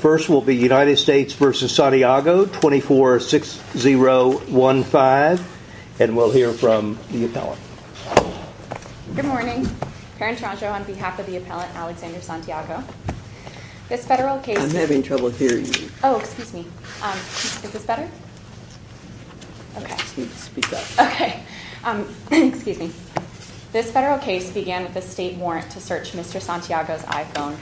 First will be United States v. Santiago, 24-6015, and we'll hear from the appellant. Good morning. Karen Taranto on behalf of the appellant, Alexander Santiago. This federal case... I'm having trouble hearing you. Oh, excuse me. Is this better? Okay. Speak up. Okay. Excuse me. This federal case began with a state warrant to search Mr. Santiago's iPhone.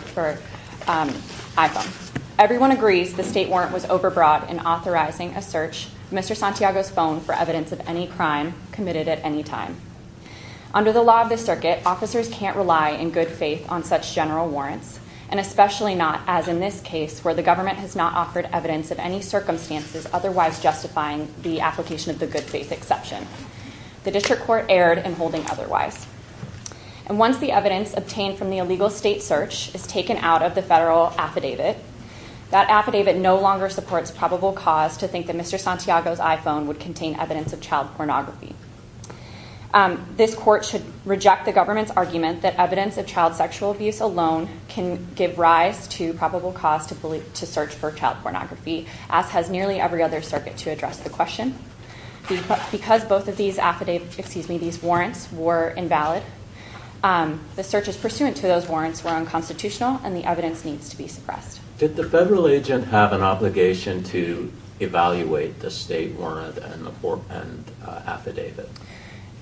Everyone agrees the state warrant was overbroad in authorizing a search of Mr. Santiago's phone for evidence of any crime committed at any time. Under the law of the circuit, officers can't rely in good faith on such general warrants, and especially not, as in this case, where the government has not offered evidence of any circumstances otherwise justifying the application of the good faith exception. The district court erred in holding otherwise. And once the evidence obtained from the illegal state search is taken out of the federal affidavit, that affidavit no longer supports probable cause to think that Mr. Santiago's iPhone would contain evidence of child pornography. This court should reject the government's argument that evidence of child sexual abuse alone can give rise to probable cause to search for child pornography, as has nearly every other circuit to address the question. Because both of these warrants were invalid, the searches pursuant to those warrants were unconstitutional and the evidence needs to be suppressed. Did the federal agent have an obligation to evaluate the state warrant and affidavit?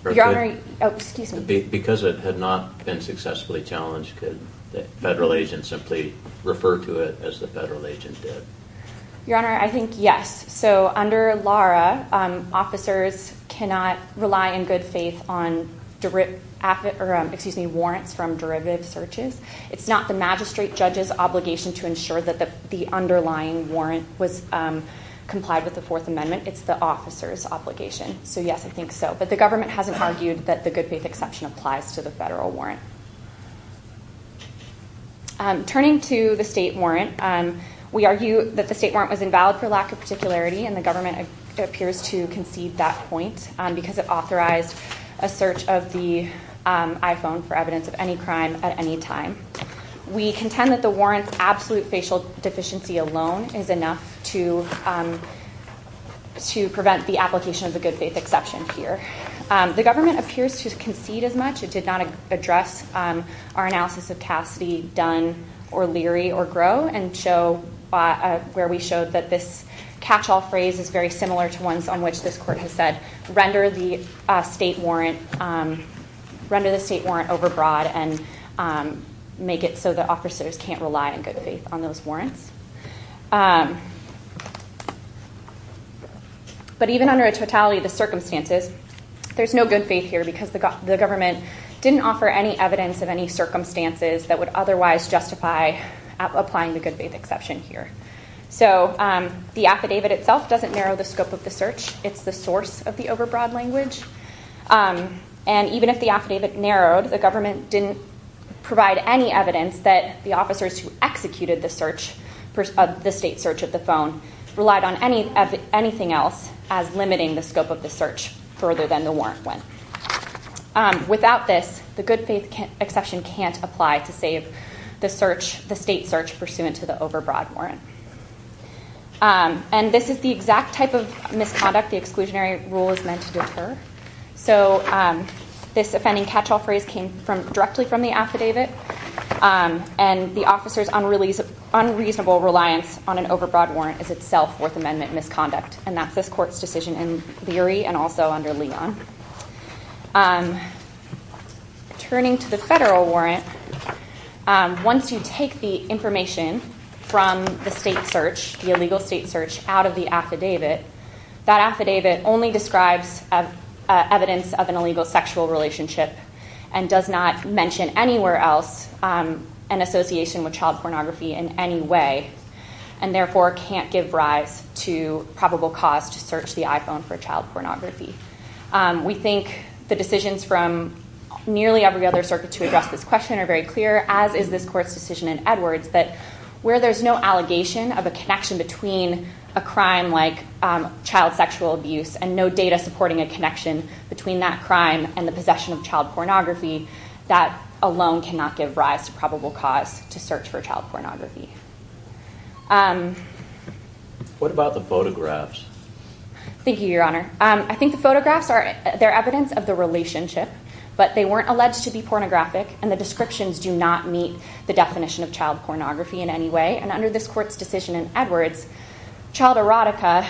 Your Honor, excuse me. Because it had not been successfully challenged, could the federal agent simply refer to it as the federal agent did? Your Honor, I think yes. So under LARA, officers cannot rely in good faith on warrants from derivative searches. It's not the magistrate judge's obligation to ensure that the underlying warrant was complied with the Fourth Amendment. It's the officer's obligation. So yes, I think so. But the government hasn't argued that the good faith exception applies to the federal warrant. Turning to the state warrant, we argue that the state warrant was invalid for lack of particularity, and the government appears to concede that point because it authorized a search of the iPhone for evidence of any crime at any time. We contend that the warrant's absolute facial deficiency alone is enough to prevent the application of the good faith exception here. The government appears to concede as much. It did not address our analysis of Cassidy, Dunn, or Leary, or Grow, where we showed that this catch-all phrase is very similar to ones on which this Court has said, render the state warrant overbroad and make it so that officers can't rely in good faith on those warrants. But even under a totality of the circumstances, there's no good faith here because the government didn't offer any evidence of any circumstances that would otherwise justify applying the good faith exception here. So the affidavit itself doesn't narrow the scope of the search. It's the source of the overbroad language. And even if the affidavit narrowed, the government didn't provide any evidence that the officers who executed the state search of the phone relied on anything else as limiting the scope of the search further than the warrant went. Without this, the good faith exception can't apply to save the state search pursuant to the overbroad warrant. And this is the exact type of misconduct the exclusionary rule is meant to deter. So this offending catch-all phrase came directly from the affidavit. And the officers' unreasonable reliance on an overbroad warrant is itself Fourth Amendment misconduct. And that's this Court's decision in Leary and also under Leon. Turning to the federal warrant, once you take the information from the state search, the illegal state search, out of the affidavit, that affidavit only describes evidence of an illegal sexual relationship and does not mention anywhere else an association with probable cause to search the iPhone for child pornography. We think the decisions from nearly every other circuit to address this question are very clear, as is this Court's decision in Edwards, that where there's no allegation of a connection between a crime like child sexual abuse and no data supporting a connection between that crime and the possession of child pornography, that alone cannot give rise to probable cause to search for child pornography. What about the photographs? Thank you, Your Honor. I think the photographs are evidence of the relationship, but they weren't alleged to be pornographic and the descriptions do not meet the definition of child pornography in any way. And under this Court's decision in Edwards, child erotica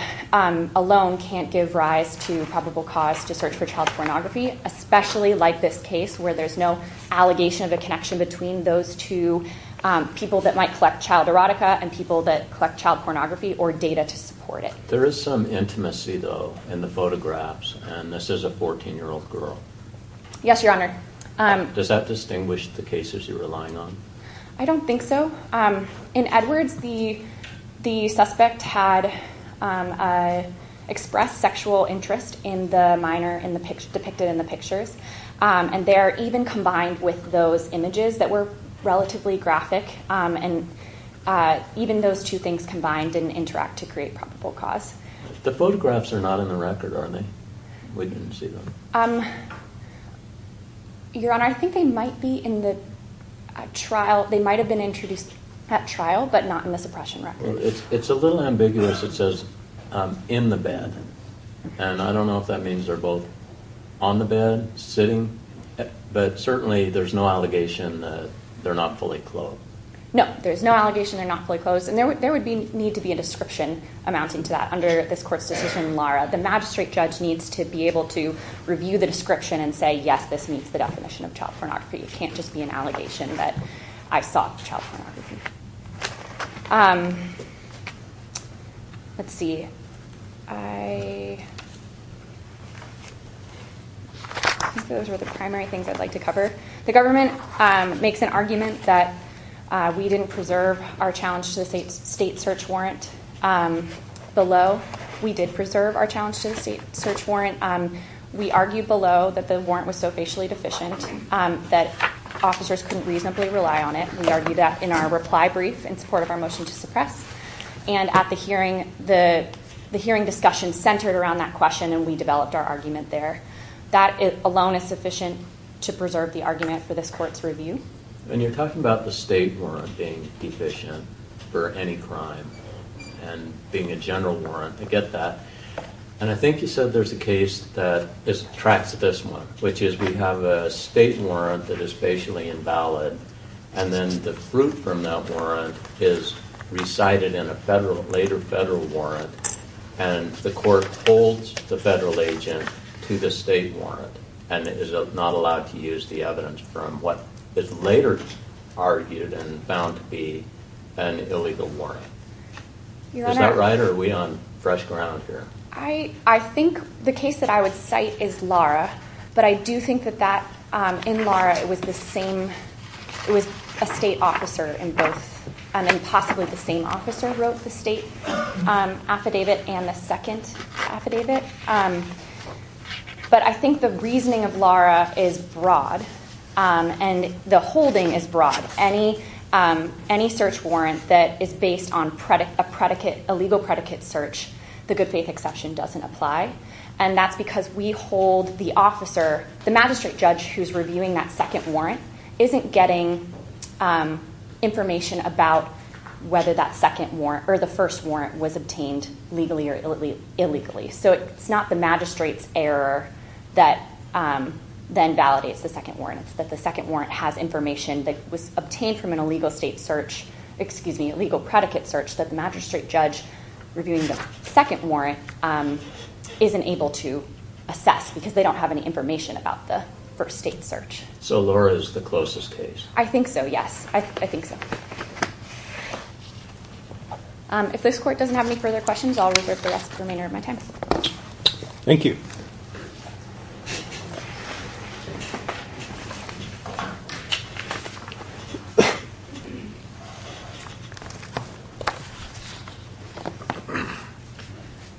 alone can't give rise to probable cause to search for child pornography, especially like this case where there's no allegation of a connection between those two people that might collect child erotica and people that collect child pornography or data to support it. There is some intimacy, though, in the photographs, and this is a 14-year-old girl. Yes, Your Honor. Does that distinguish the cases you're relying on? I don't think so. In Edwards, the suspect had expressed sexual interest in the minor depicted in the pictures, and they're even combined with those images that were relatively graphic, and even those two things combined didn't interact to create probable cause. The photographs are not in the record, are they? We didn't see them. Your Honor, I think they might be in the trial. They might have been introduced at trial, but not in the suppression record. It's a little ambiguous. It says, in the bed, and I don't know if that means they're both on the bed, sitting, but certainly there's no allegation that they're not fully clothed. No, there's no allegation they're not fully clothed, and there would need to be a description amounting to that under this Court's decision, Lara. The magistrate judge needs to be able to review the description and say, yes, this meets the definition of child pornography. It can't just be an allegation that I sought child pornography. Let's see. Those were the primary things I'd like to cover. The government makes an argument that we didn't preserve our challenge to the state search warrant below. We did preserve our challenge to the state search warrant. We argued below that the warrant was so facially deficient that officers couldn't reasonably rely on it. We argued that in our reply brief in support of our motion to suppress, and at the hearing, the hearing discussion centered around that question, and we developed our argument there. That alone is sufficient to preserve the argument for this Court's review. And you're talking about the state warrant being deficient for any crime and being a general warrant. I get that. And I think you said there's a case that tracks this one, which is we have a state warrant that is facially invalid, and then the fruit from that warrant is recited in a later federal warrant, and the Court holds the federal agent to the state warrant and is not allowed to use the evidence from what is later argued and found to be an illegal warrant. Is that right, or are we on fresh ground here? I think the case that I would cite is Lara, but I do think that in Lara it was a state officer in both, and possibly the same officer wrote the state affidavit and the second affidavit. But I think the reasoning of Lara is broad, and the holding is broad. Any search warrant that is based on a legal predicate search, the good-faith exception doesn't apply, and that's because we hold the officer, the magistrate judge who's reviewing that second warrant, isn't getting information about whether that second warrant or the first warrant was obtained legally or illegally. So it's not the magistrate's error that then validates the second warrant. It's that the second warrant has information that was obtained from an illegal state search, excuse me, illegal predicate search, that the magistrate judge reviewing the second warrant isn't able to assess because they don't have any information about the first state search. So Lara is the closest case? I think so, yes. I think so. If this Court doesn't have any further questions, I'll reserve the rest of the remainder of my time. Thank you.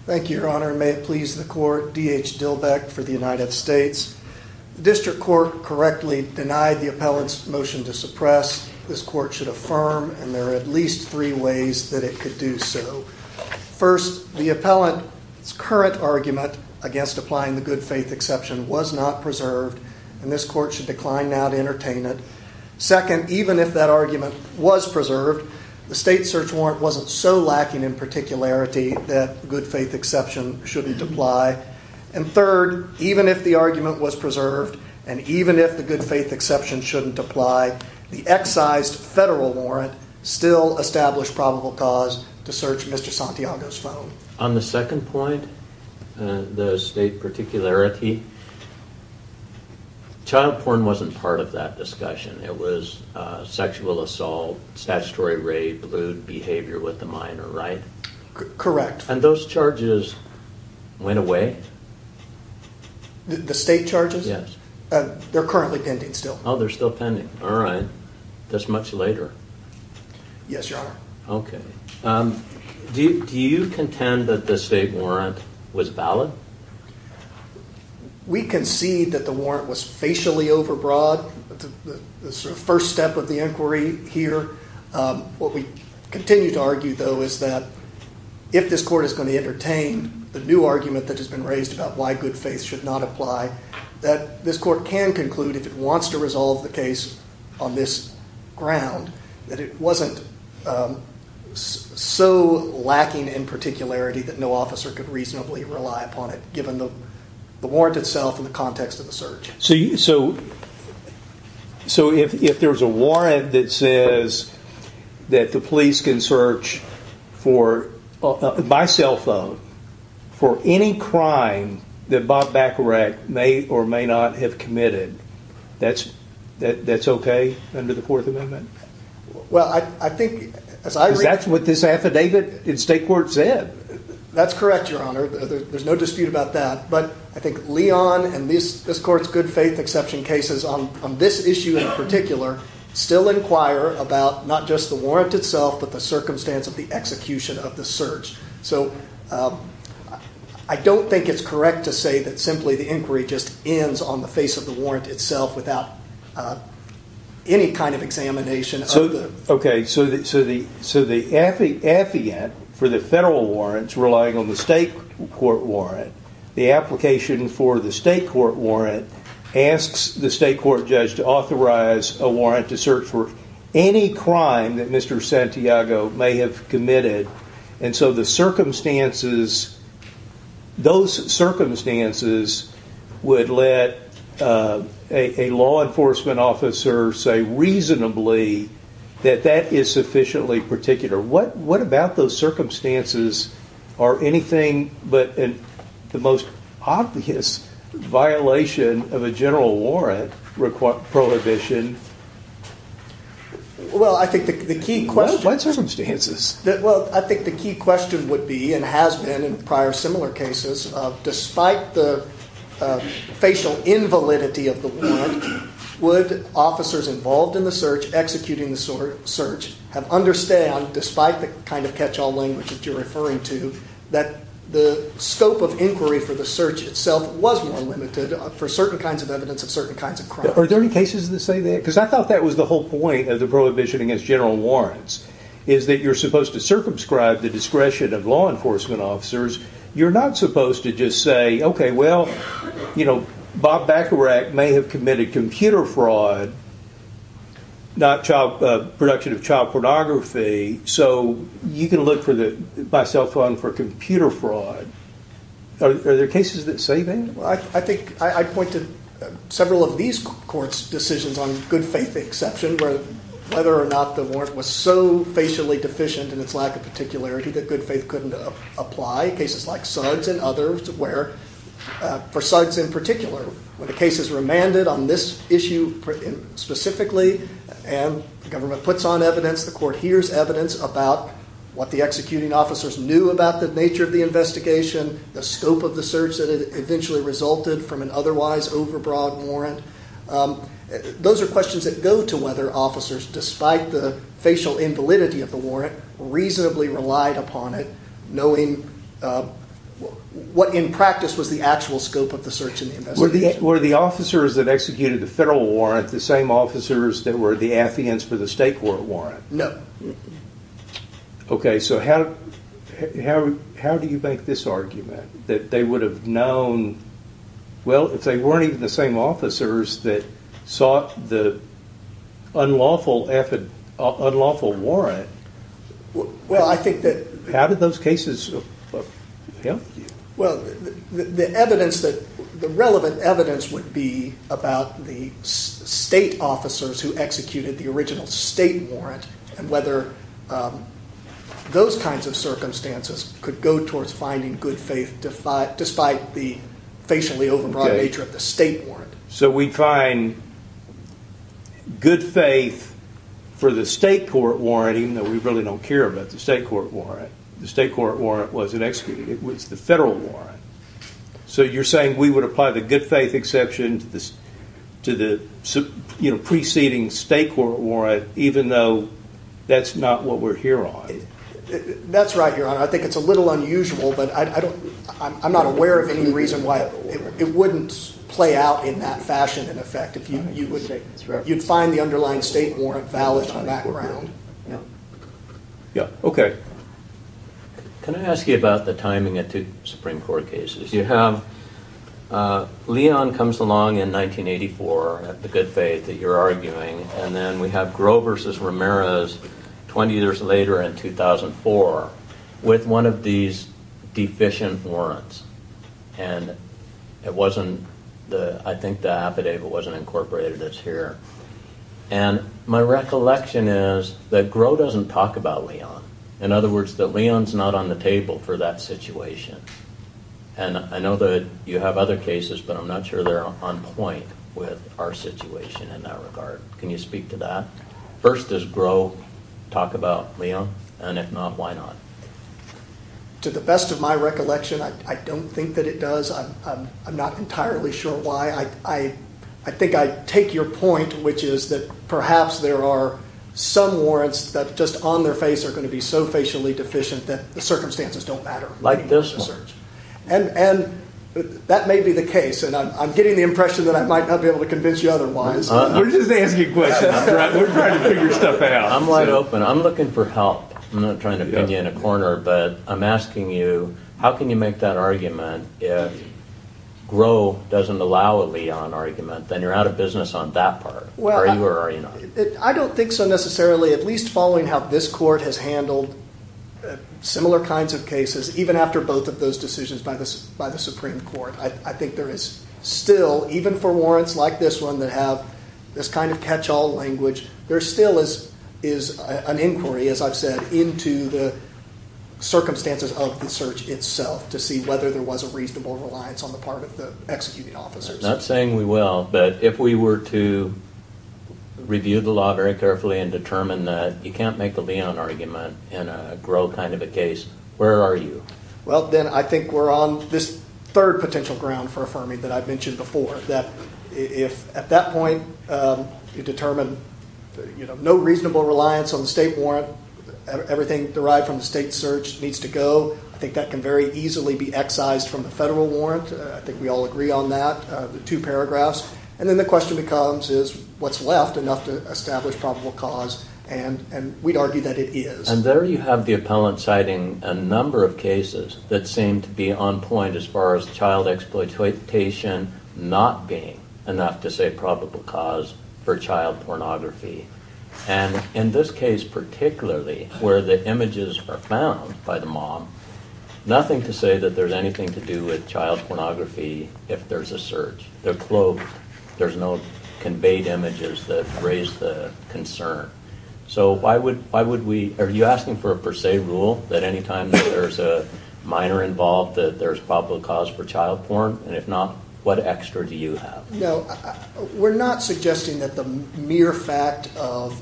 Thank you, Your Honor, and may it please the Court. D.H. Dillbeck for the United States. The District Court correctly denied the appellant's motion to suppress. This Court should affirm, and there are at least three ways that it could do so. First, the appellant's current argument against applying the good-faith exception was not preserved, and this Court should decline the motion. I decline now to entertain it. Second, even if that argument was preserved, the state search warrant wasn't so lacking in particularity that good-faith exception shouldn't apply. And third, even if the argument was preserved and even if the good-faith exception shouldn't apply, the excised federal warrant still established probable cause to search Mr. Santiago's phone. On the second point, the state particularity, child porn wasn't part of that discussion. It was sexual assault, statutory rape, lewd behavior with the minor, right? Correct. And those charges went away? The state charges? Yes. They're currently pending still. Oh, they're still pending. All right. That's much later. Yes, Your Honor. Okay. Do you contend that the state warrant was valid? We concede that the warrant was facially overbroad, the first step of the inquiry here. What we continue to argue, though, is that if this Court is going to entertain the new argument that has been raised about why good-faith should not apply, that this Court can conclude if it wants to resolve the case on this ground that it wasn't so lacking in particularity that no officer could reasonably rely upon it given the warrant itself and the context of the search. So if there's a warrant that says that the police can search by cell phone for any crime that Bob Bacharach may or may not have committed, that's okay under the Fourth Amendment? Well, I think as I read... Because that's what this affidavit in state court said. That's correct, Your Honor. There's no dispute about that. But I think Leon and this Court's good-faith exception cases on this issue in particular still inquire about not just the warrant itself but the circumstance of the execution of the search. So I don't think it's correct to say that simply the inquiry just ends on the face of the warrant itself without any kind of examination of the... Okay, so the affidavit for the federal warrant is relying on the state court warrant. The application for the state court warrant asks the state court judge to authorize a warrant to search for any crime that Mr. Santiago may have committed. And so those circumstances would let a law enforcement officer say reasonably that that is sufficiently particular. What about those circumstances are anything but the most obvious violation of a general warrant prohibition? Well, I think the key question... What circumstances? Well, I think the key question would be, and has been in prior similar cases, despite the facial invalidity of the warrant, would officers involved in the search, executing the search, have understood, despite the kind of catch-all language that you're referring to, that the scope of inquiry for the search itself was more limited for certain kinds of evidence of certain kinds of crimes. Are there any cases that say that? Because I thought that was the whole point of the prohibition against general warrants is that you're supposed to circumscribe the discretion of law enforcement officers. You're not supposed to just say, okay, well, you know, Bob Bacharach may have committed computer fraud, not production of child pornography, so you can look by cell phone for computer fraud. Are there cases that say that? I think I point to several of these courts' decisions on good faith exception where whether or not the warrant was so facially deficient in its lack of particularity that good faith couldn't apply. Cases like Suggs and others where, for Suggs in particular, when the case is remanded on this issue specifically and the government puts on evidence, the court hears evidence about what the executing officers knew about the nature of the investigation, the scope of the search that eventually resulted from an otherwise overbroad warrant. Those are questions that go to whether officers, despite the facial invalidity of the warrant, reasonably relied upon it, knowing what in practice was the actual scope of the search and the investigation. Were the officers that executed the federal warrant the same officers that were the affiants for the state court warrant? No. Okay, so how do you make this argument, that they would have known, well, if they weren't even the same officers that sought the unlawful warrant, how did those cases help you? Well, the relevant evidence would be about the state officers who executed the original state warrant and whether those kinds of circumstances could go towards finding good faith despite the facially overbroad nature of the state warrant. So we'd find good faith for the state court warrant, even though we really don't care about the state court warrant. The state court warrant wasn't executed, it was the federal warrant. So you're saying we would apply the good faith exception to the preceding state court warrant even though that's not what we're here on. That's right, Your Honor. I think it's a little unusual, but I'm not aware of any reason why it wouldn't play out in that fashion, in effect. You'd find the underlying state warrant valid from that ground. Yeah, okay. Can I ask you about the timing of two Supreme Court cases? You have Leon comes along in 1984 at the good faith that you're arguing, and then we have Grover versus Ramirez 20 years later in 2004 with one of these deficient warrants. And I think the affidavit wasn't incorporated this year. And my recollection is that Grover doesn't talk about Leon. In other words, that Leon's not on the table for that situation. And I know that you have other cases, but I'm not sure they're on point with our situation in that regard. Can you speak to that? First, does Grover talk about Leon? And if not, why not? To the best of my recollection, I don't think that it does. I'm not entirely sure why. I think I take your point, which is that perhaps there are some warrants that just on their face are going to be so facially deficient that the circumstances don't matter. Like this one. And that may be the case. And I'm getting the impression that I might not be able to convince you otherwise. We're just asking you questions. We're trying to figure stuff out. I'm wide open. I'm looking for help. I'm not trying to pin you in a corner, but I'm asking you how can you make that argument if Grover doesn't allow a Leon argument? Then you're out of business on that part. Are you or are you not? I don't think so necessarily, at least following how this court has handled similar kinds of cases, even after both of those decisions by the Supreme Court. I think there is still, even for warrants like this one that have this kind of catch-all language, there still is an inquiry, as I've said, into the circumstances of the search itself to see whether there was a reasonable reliance on the part of the executing officers. I'm not saying we will, but if we were to review the law very carefully and determine that you can't make a Leon argument in a Grover kind of a case, where are you? Well, then I think we're on this third potential ground for affirming that I've mentioned before, that if at that point you determine no reasonable reliance on the state warrant, everything derived from the state search needs to go, I think that can very easily be excised from the federal warrant. I think we all agree on that, the two paragraphs. And then the question becomes, is what's left enough to establish probable cause? And we'd argue that it is. And there you have the appellant citing a number of cases that seem to be on point as far as child exploitation not being enough to say probable cause for child pornography. And in this case particularly, where the images are found by the mom, nothing to say that there's anything to do with child pornography if there's a search. They're cloaked. There's no conveyed images that raise the concern. So why would we, are you asking for a per se rule that any time there's a minor involved that there's probable cause for child porn? And if not, what extra do you have? No, we're not suggesting that the mere fact of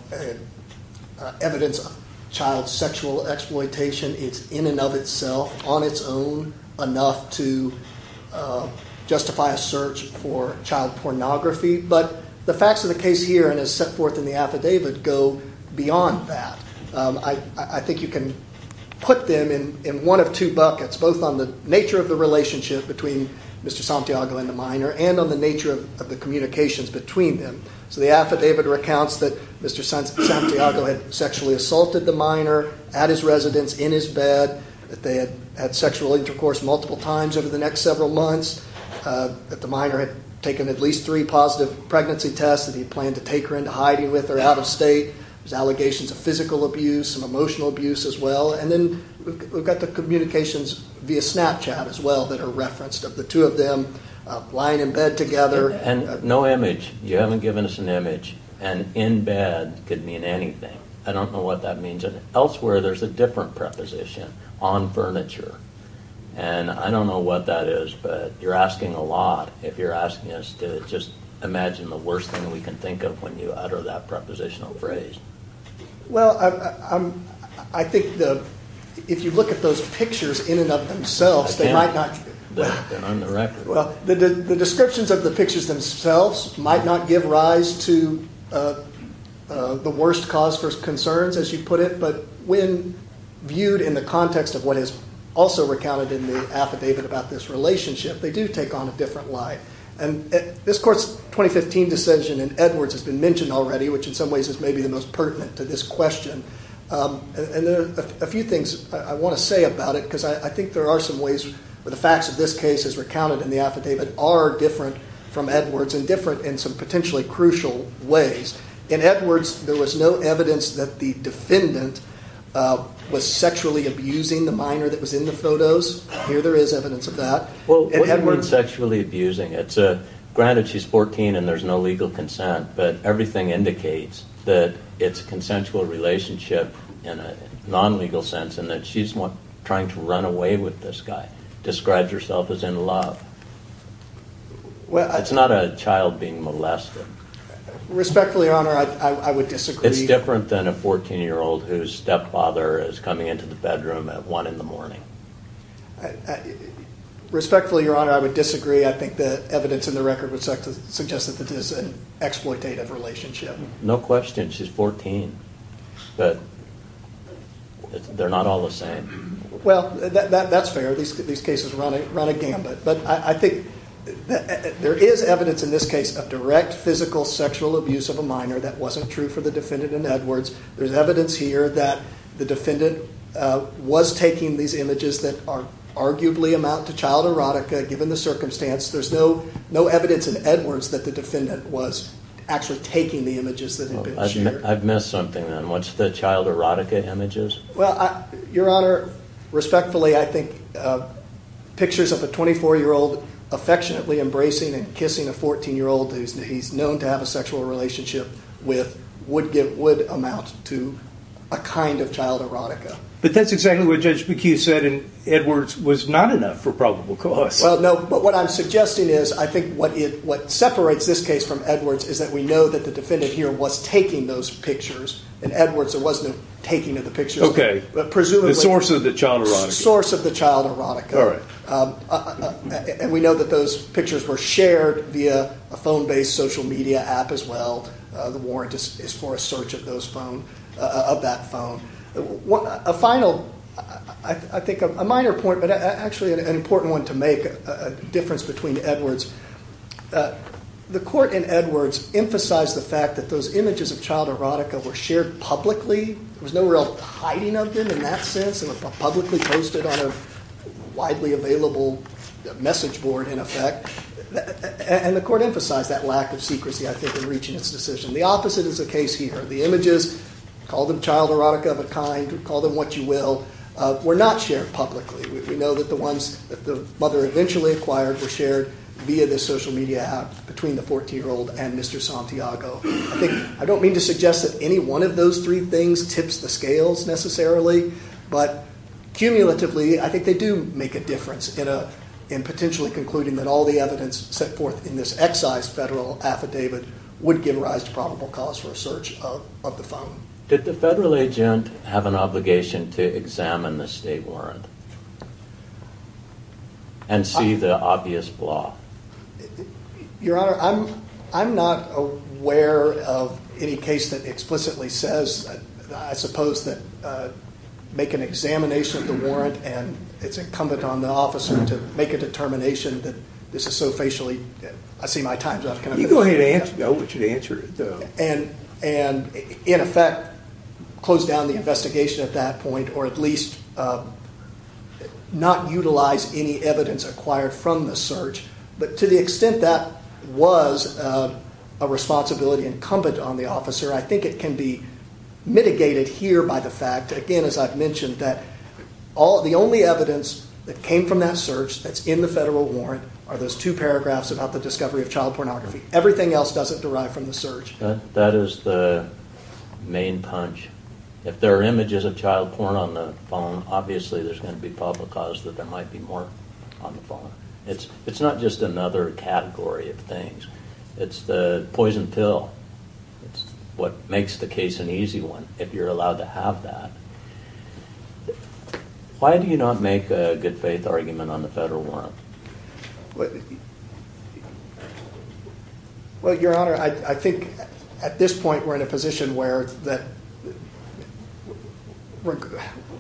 evidence of child sexual exploitation is in and of itself on its own enough to justify a search for child pornography. But the facts of the case here and as set forth in the affidavit go beyond that. I think you can put them in one of two buckets, both on the nature of the relationship between Mr. Santiago and the minor and on the nature of the communications between them. So the affidavit recounts that Mr. Santiago had sexually assaulted the minor at his residence in his bed, that they had had sexual intercourse multiple times over the next several months, that the minor had taken at least three positive pregnancy tests, that he planned to take her into hiding with her out of state. There's allegations of physical abuse and emotional abuse as well. And then we've got the communications via Snapchat as well that are referenced of the two of them lying in bed together. And no image, you haven't given us an image, and in bed could mean anything. I don't know what that means. Elsewhere there's a different preposition, on furniture. And I don't know what that is, but you're asking a lot if you're asking us to just imagine the worst thing we can think of when you utter that prepositional phrase. Well, I think if you look at those pictures in and of themselves, they might not give rise to the worst cause for concerns, as you put it. But when viewed in the context of what is also recounted in the affidavit about this relationship, they do take on a different light. And this court's 2015 decision in Edwards has been mentioned already, which in some ways is maybe the most pertinent to this question. And there are a few things I want to say about it, because I think there are some ways where the facts of this case as recounted in the affidavit are different from Edwards and different in some potentially crucial ways. In Edwards, there was no evidence that the defendant was sexually abusing the minor that was in the photos. Here there is evidence of that. Well, what do you mean sexually abusing? Granted, she's 14 and there's no legal consent, but everything indicates that it's a consensual relationship in a non-legal sense and that she's trying to run away with this guy. Describes herself as in love. It's not a child being molested. Respectfully, Your Honor, I would disagree. It's different than a 14-year-old whose stepfather is coming into the bedroom at 1 in the morning. Respectfully, Your Honor, I would disagree. I think the evidence in the record would suggest that this is an exploitative relationship. No question. She's 14. But they're not all the same. Well, that's fair. These cases run agambit. But I think there is evidence in this case of direct physical sexual abuse of a minor that wasn't true for the defendant in Edwards. There's evidence here that the defendant was taking these images that arguably amount to child erotica given the circumstance. There's no evidence in Edwards that the defendant was actually taking the images that have been shared. I've missed something then. What's the child erotica images? Well, Your Honor, respectfully, I think pictures of a 24-year-old affectionately embracing and kissing a 14-year-old who he's known to have a sexual relationship with would amount to a kind of child erotica. But that's exactly what Judge McHugh said in Edwards was not enough for probable cause. Well, no, but what I'm suggesting is I think what separates this case from Edwards is that we know that the defendant here was taking those pictures. In Edwards, there was no taking of the pictures. Okay. The source of the child erotica. The source of the child erotica. All right. And we know that those pictures were shared via a phone-based social media app as well. The warrant is for a search of that phone. A final, I think, a minor point, but actually an important one to make, a difference between Edwards. The court in Edwards emphasized the fact that those images of child erotica were shared publicly. There was no real hiding of them in that sense. They were publicly posted on a widely available message board, in effect. And the court emphasized that lack of secrecy, I think, in reaching its decision. The opposite is the case here. The images, call them child erotica of a kind, call them what you will, were not shared publicly. We know that the ones that the mother eventually acquired were shared via this social media app between the 14-year-old and Mr. Santiago. I don't mean to suggest that any one of those three things tips the scales necessarily, but cumulatively, I think they do make a difference in potentially concluding that all the evidence set forth in this excise federal affidavit would give rise to probable cause for a search of the phone. Did the federal agent have an obligation to examine the state warrant and see the obvious flaw? Your Honor, I'm not aware of any case that explicitly says, I suppose, that make an examination of the warrant and it's incumbent on the officer to make a determination that this is so facially, I see my time's up. You go ahead and answer, I want you to answer it though. And in effect, close down the investigation at that point or at least not utilize any evidence acquired from the search. But to the extent that was a responsibility incumbent on the officer, I think it can be mitigated here by the fact, again, as I've mentioned, that the only evidence that came from that search that's in the federal warrant are those two paragraphs about the discovery of child pornography. Everything else doesn't derive from the search. That is the main punch. If there are images of child porn on the phone, obviously there's going to be probable cause that there might be more on the phone. It's not just another category of things. It's the poison pill. It's what makes the case an easy one, if you're allowed to have that. Why do you not make a good faith argument on the federal warrant? Well, Your Honor, I think at this point we're in a position where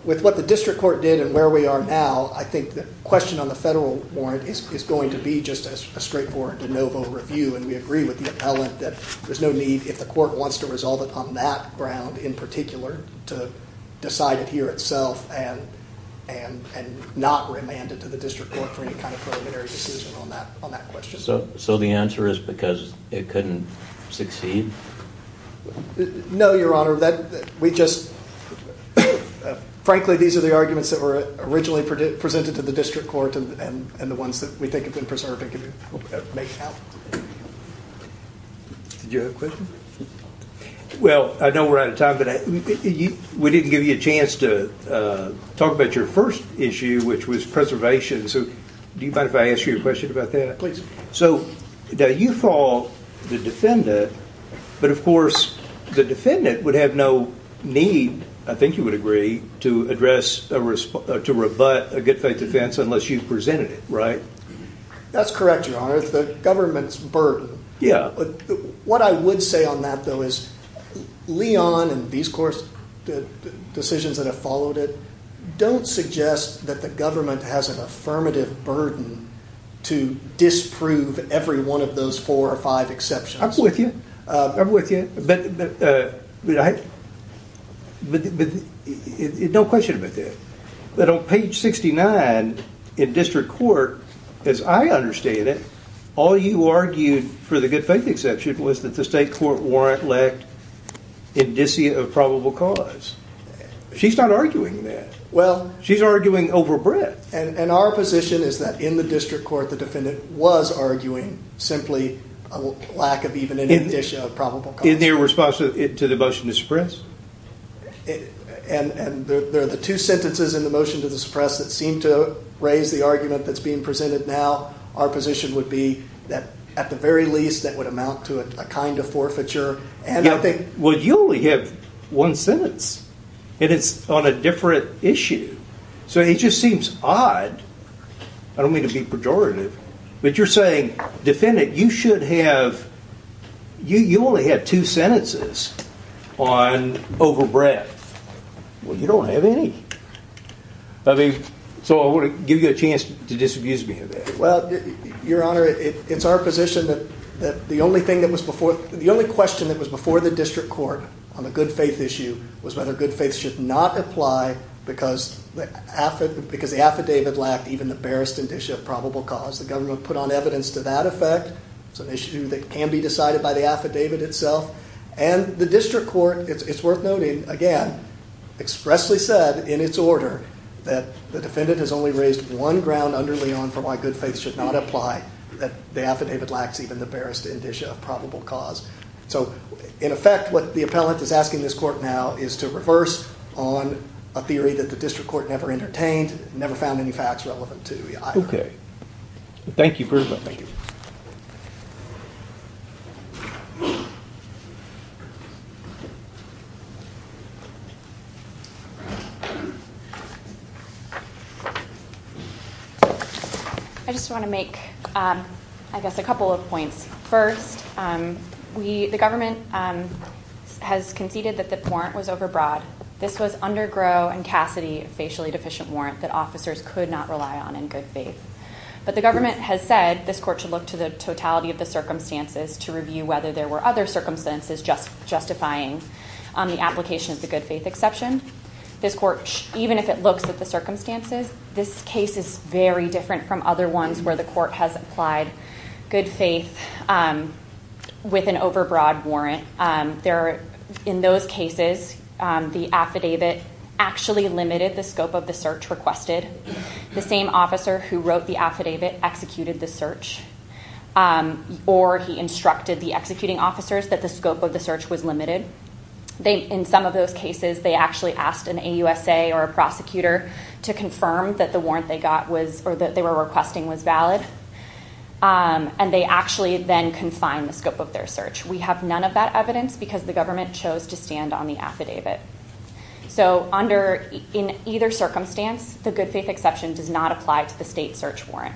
with what the district court did and where we are now, I think the question on the federal warrant is going to be just a straightforward de novo review. And we agree with the appellant that there's no need, if the court wants to resolve it on that ground in particular, to decide it here itself and not remand it to the district court for any kind of preliminary decision on that question. So the answer is because it couldn't succeed? No, Your Honor. Frankly, these are the arguments that were originally presented to the district court and the ones that we think have been preserved and can make it happen. Did you have a question? Well, I know we're out of time, but we didn't give you a chance to talk about your first issue, which was preservation. So do you mind if I ask you a question about that? Please. So you fought the defendant, but of course the defendant would have no need, I think you would agree, to address or to rebut a good faith defense unless you presented it, right? That's correct, Your Honor. It's the government's burden. Yeah. What I would say on that, though, is Leon and these decisions that have followed it don't suggest that the government has an affirmative burden to disprove every one of those four or five exceptions. I'm with you. I'm with you. No question about that. But on page 69 in district court, as I understand it, all you argued for the good faith exception was that the state court warrant lacked indicia of probable cause. She's not arguing that. She's arguing overbreadth. And our position is that in the district court, the defendant was arguing simply a lack of even an indicia of probable cause. In their response to the motion to suppress? And there are the two sentences in the motion to suppress that seem to raise the argument that's being presented now. Our position would be that at the very least that would amount to a kind of forfeiture. Well, you only have one sentence. And it's on a different issue. So it just seems odd. I don't mean to be pejorative. But you're saying, defendant, you should have... You only have two sentences on overbreadth. Well, you don't have any. So I want to give you a chance to disabuse me of that. Well, Your Honor, it's our position that the only question that was before the district court on the good faith issue was whether good faith should not apply because the affidavit lacked even the barest indicia of probable cause. The government put on evidence to that effect. It's an issue that can be decided by the affidavit itself. And the district court, it's worth noting, again, expressly said in its order that the defendant has only raised one ground under Leon for why good faith should not apply, that the affidavit lacks even the barest indicia of probable cause. So, in effect, what the appellant is asking this court now is to reverse on a theory that the district court never entertained, never found any facts relevant to either. Okay. Thank you very much. I just want to make, I guess, a couple of points. First, the government has conceded that the warrant was overbroad. This was under Gros and Cassidy, a facially deficient warrant that officers could not rely on in good faith. But the government has said this court should look to the totality of the circumstances to review whether there were other circumstances justifying the application of the good faith exception. This court, even if it looks at the circumstances, this case is very different from other ones where the court has applied good faith with an overbroad warrant. In those cases, the affidavit actually limited the scope of the search requested. The same officer who wrote the affidavit executed the search, or he instructed the executing officers that the scope of the search was limited. In some of those cases, they actually asked an AUSA or a prosecutor to confirm that the warrant they were requesting was valid. And they actually then confined the scope of their search. We have none of that evidence because the government chose to stand on the affidavit. So in either circumstance, the good faith exception does not apply to the state search warrant.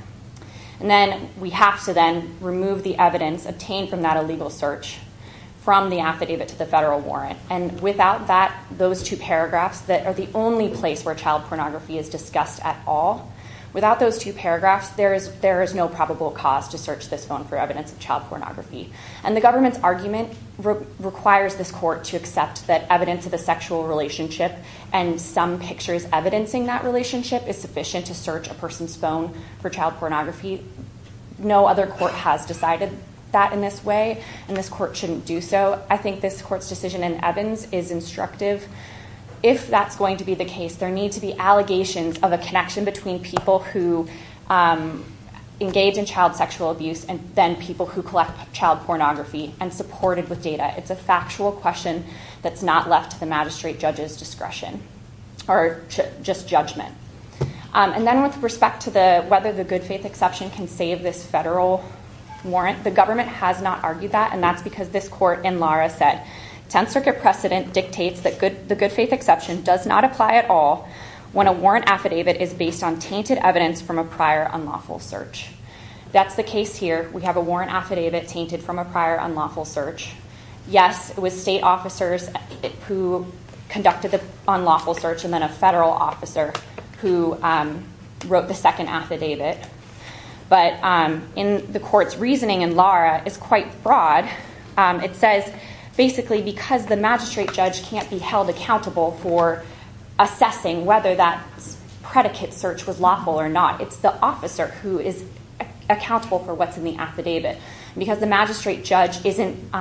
And then we have to then remove the evidence obtained from that illegal search from the affidavit to the federal warrant. And without that, those two paragraphs that are the only place where child pornography is discussed at all, without those two paragraphs, there is no probable cause to search this phone for evidence of child pornography. And the government's argument requires this court to accept that evidence of a sexual relationship and some pictures evidencing that relationship is sufficient to search a person's phone for child pornography. No other court has decided that in this way, and this court shouldn't do so. I think this court's decision in Evans is instructive. If that's going to be the case, there need to be allegations of a connection between people who engaged in child sexual abuse and then people who collect child pornography and supported with data. It's a factual question that's not left to the magistrate judge's discretion or just judgment. And then with respect to whether the good faith exception can save this federal warrant, the government has not argued that, and that's because this court in Lara said, 10th Circuit precedent dictates that the good faith exception does not apply at all when a warrant affidavit is based on tainted evidence from a prior unlawful search. That's the case here. We have a warrant affidavit tainted from a prior unlawful search. Yes, it was state officers who conducted the unlawful search and then a federal officer who wrote the second affidavit. But the court's reasoning in Lara is quite broad. It says basically because the magistrate judge can't be held accountable for assessing whether that predicate search was lawful or not, it's the officer who is accountable for what's in the affidavit. Because the magistrate judge isn't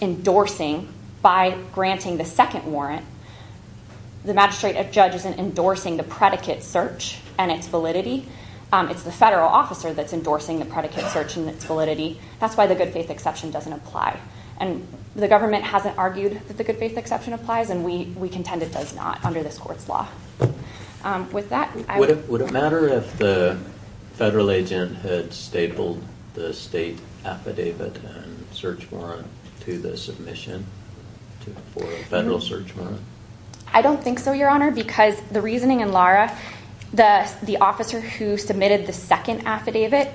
endorsing by granting the second warrant, the magistrate judge isn't endorsing the predicate search and its validity. It's the federal officer that's endorsing the predicate search and its validity. That's why the good faith exception doesn't apply. The government hasn't argued that the good faith exception applies, and we contend it does not under this court's law. Would it matter if the federal agent had stapled the state affidavit and search warrant to the submission for a federal search warrant? I don't think so, Your Honor, because the reasoning in Lara, the officer who submitted the second affidavit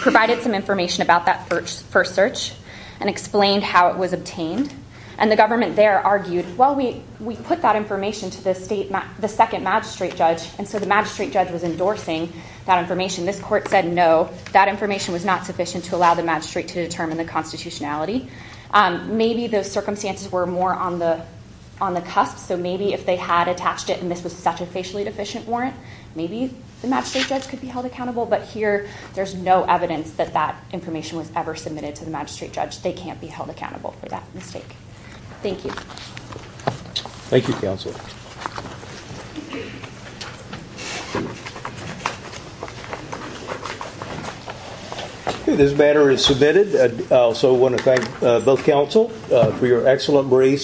provided some information about that first search and explained how it was obtained. And the government there argued, well, we put that information to the second magistrate judge, and so the magistrate judge was endorsing that information. This court said no, that information was not sufficient to allow the magistrate to determine the constitutionality. Maybe the circumstances were more on the cusp, so maybe if they had attached it and this was such a facially deficient warrant, maybe the magistrate judge could be held accountable, but here there's no evidence that that information was ever submitted to the magistrate judge. They can't be held accountable for that mistake. Thank you. Thank you, counsel. This matter is submitted. I also want to thank both counsel for your excellent briefs and your excellent testimony.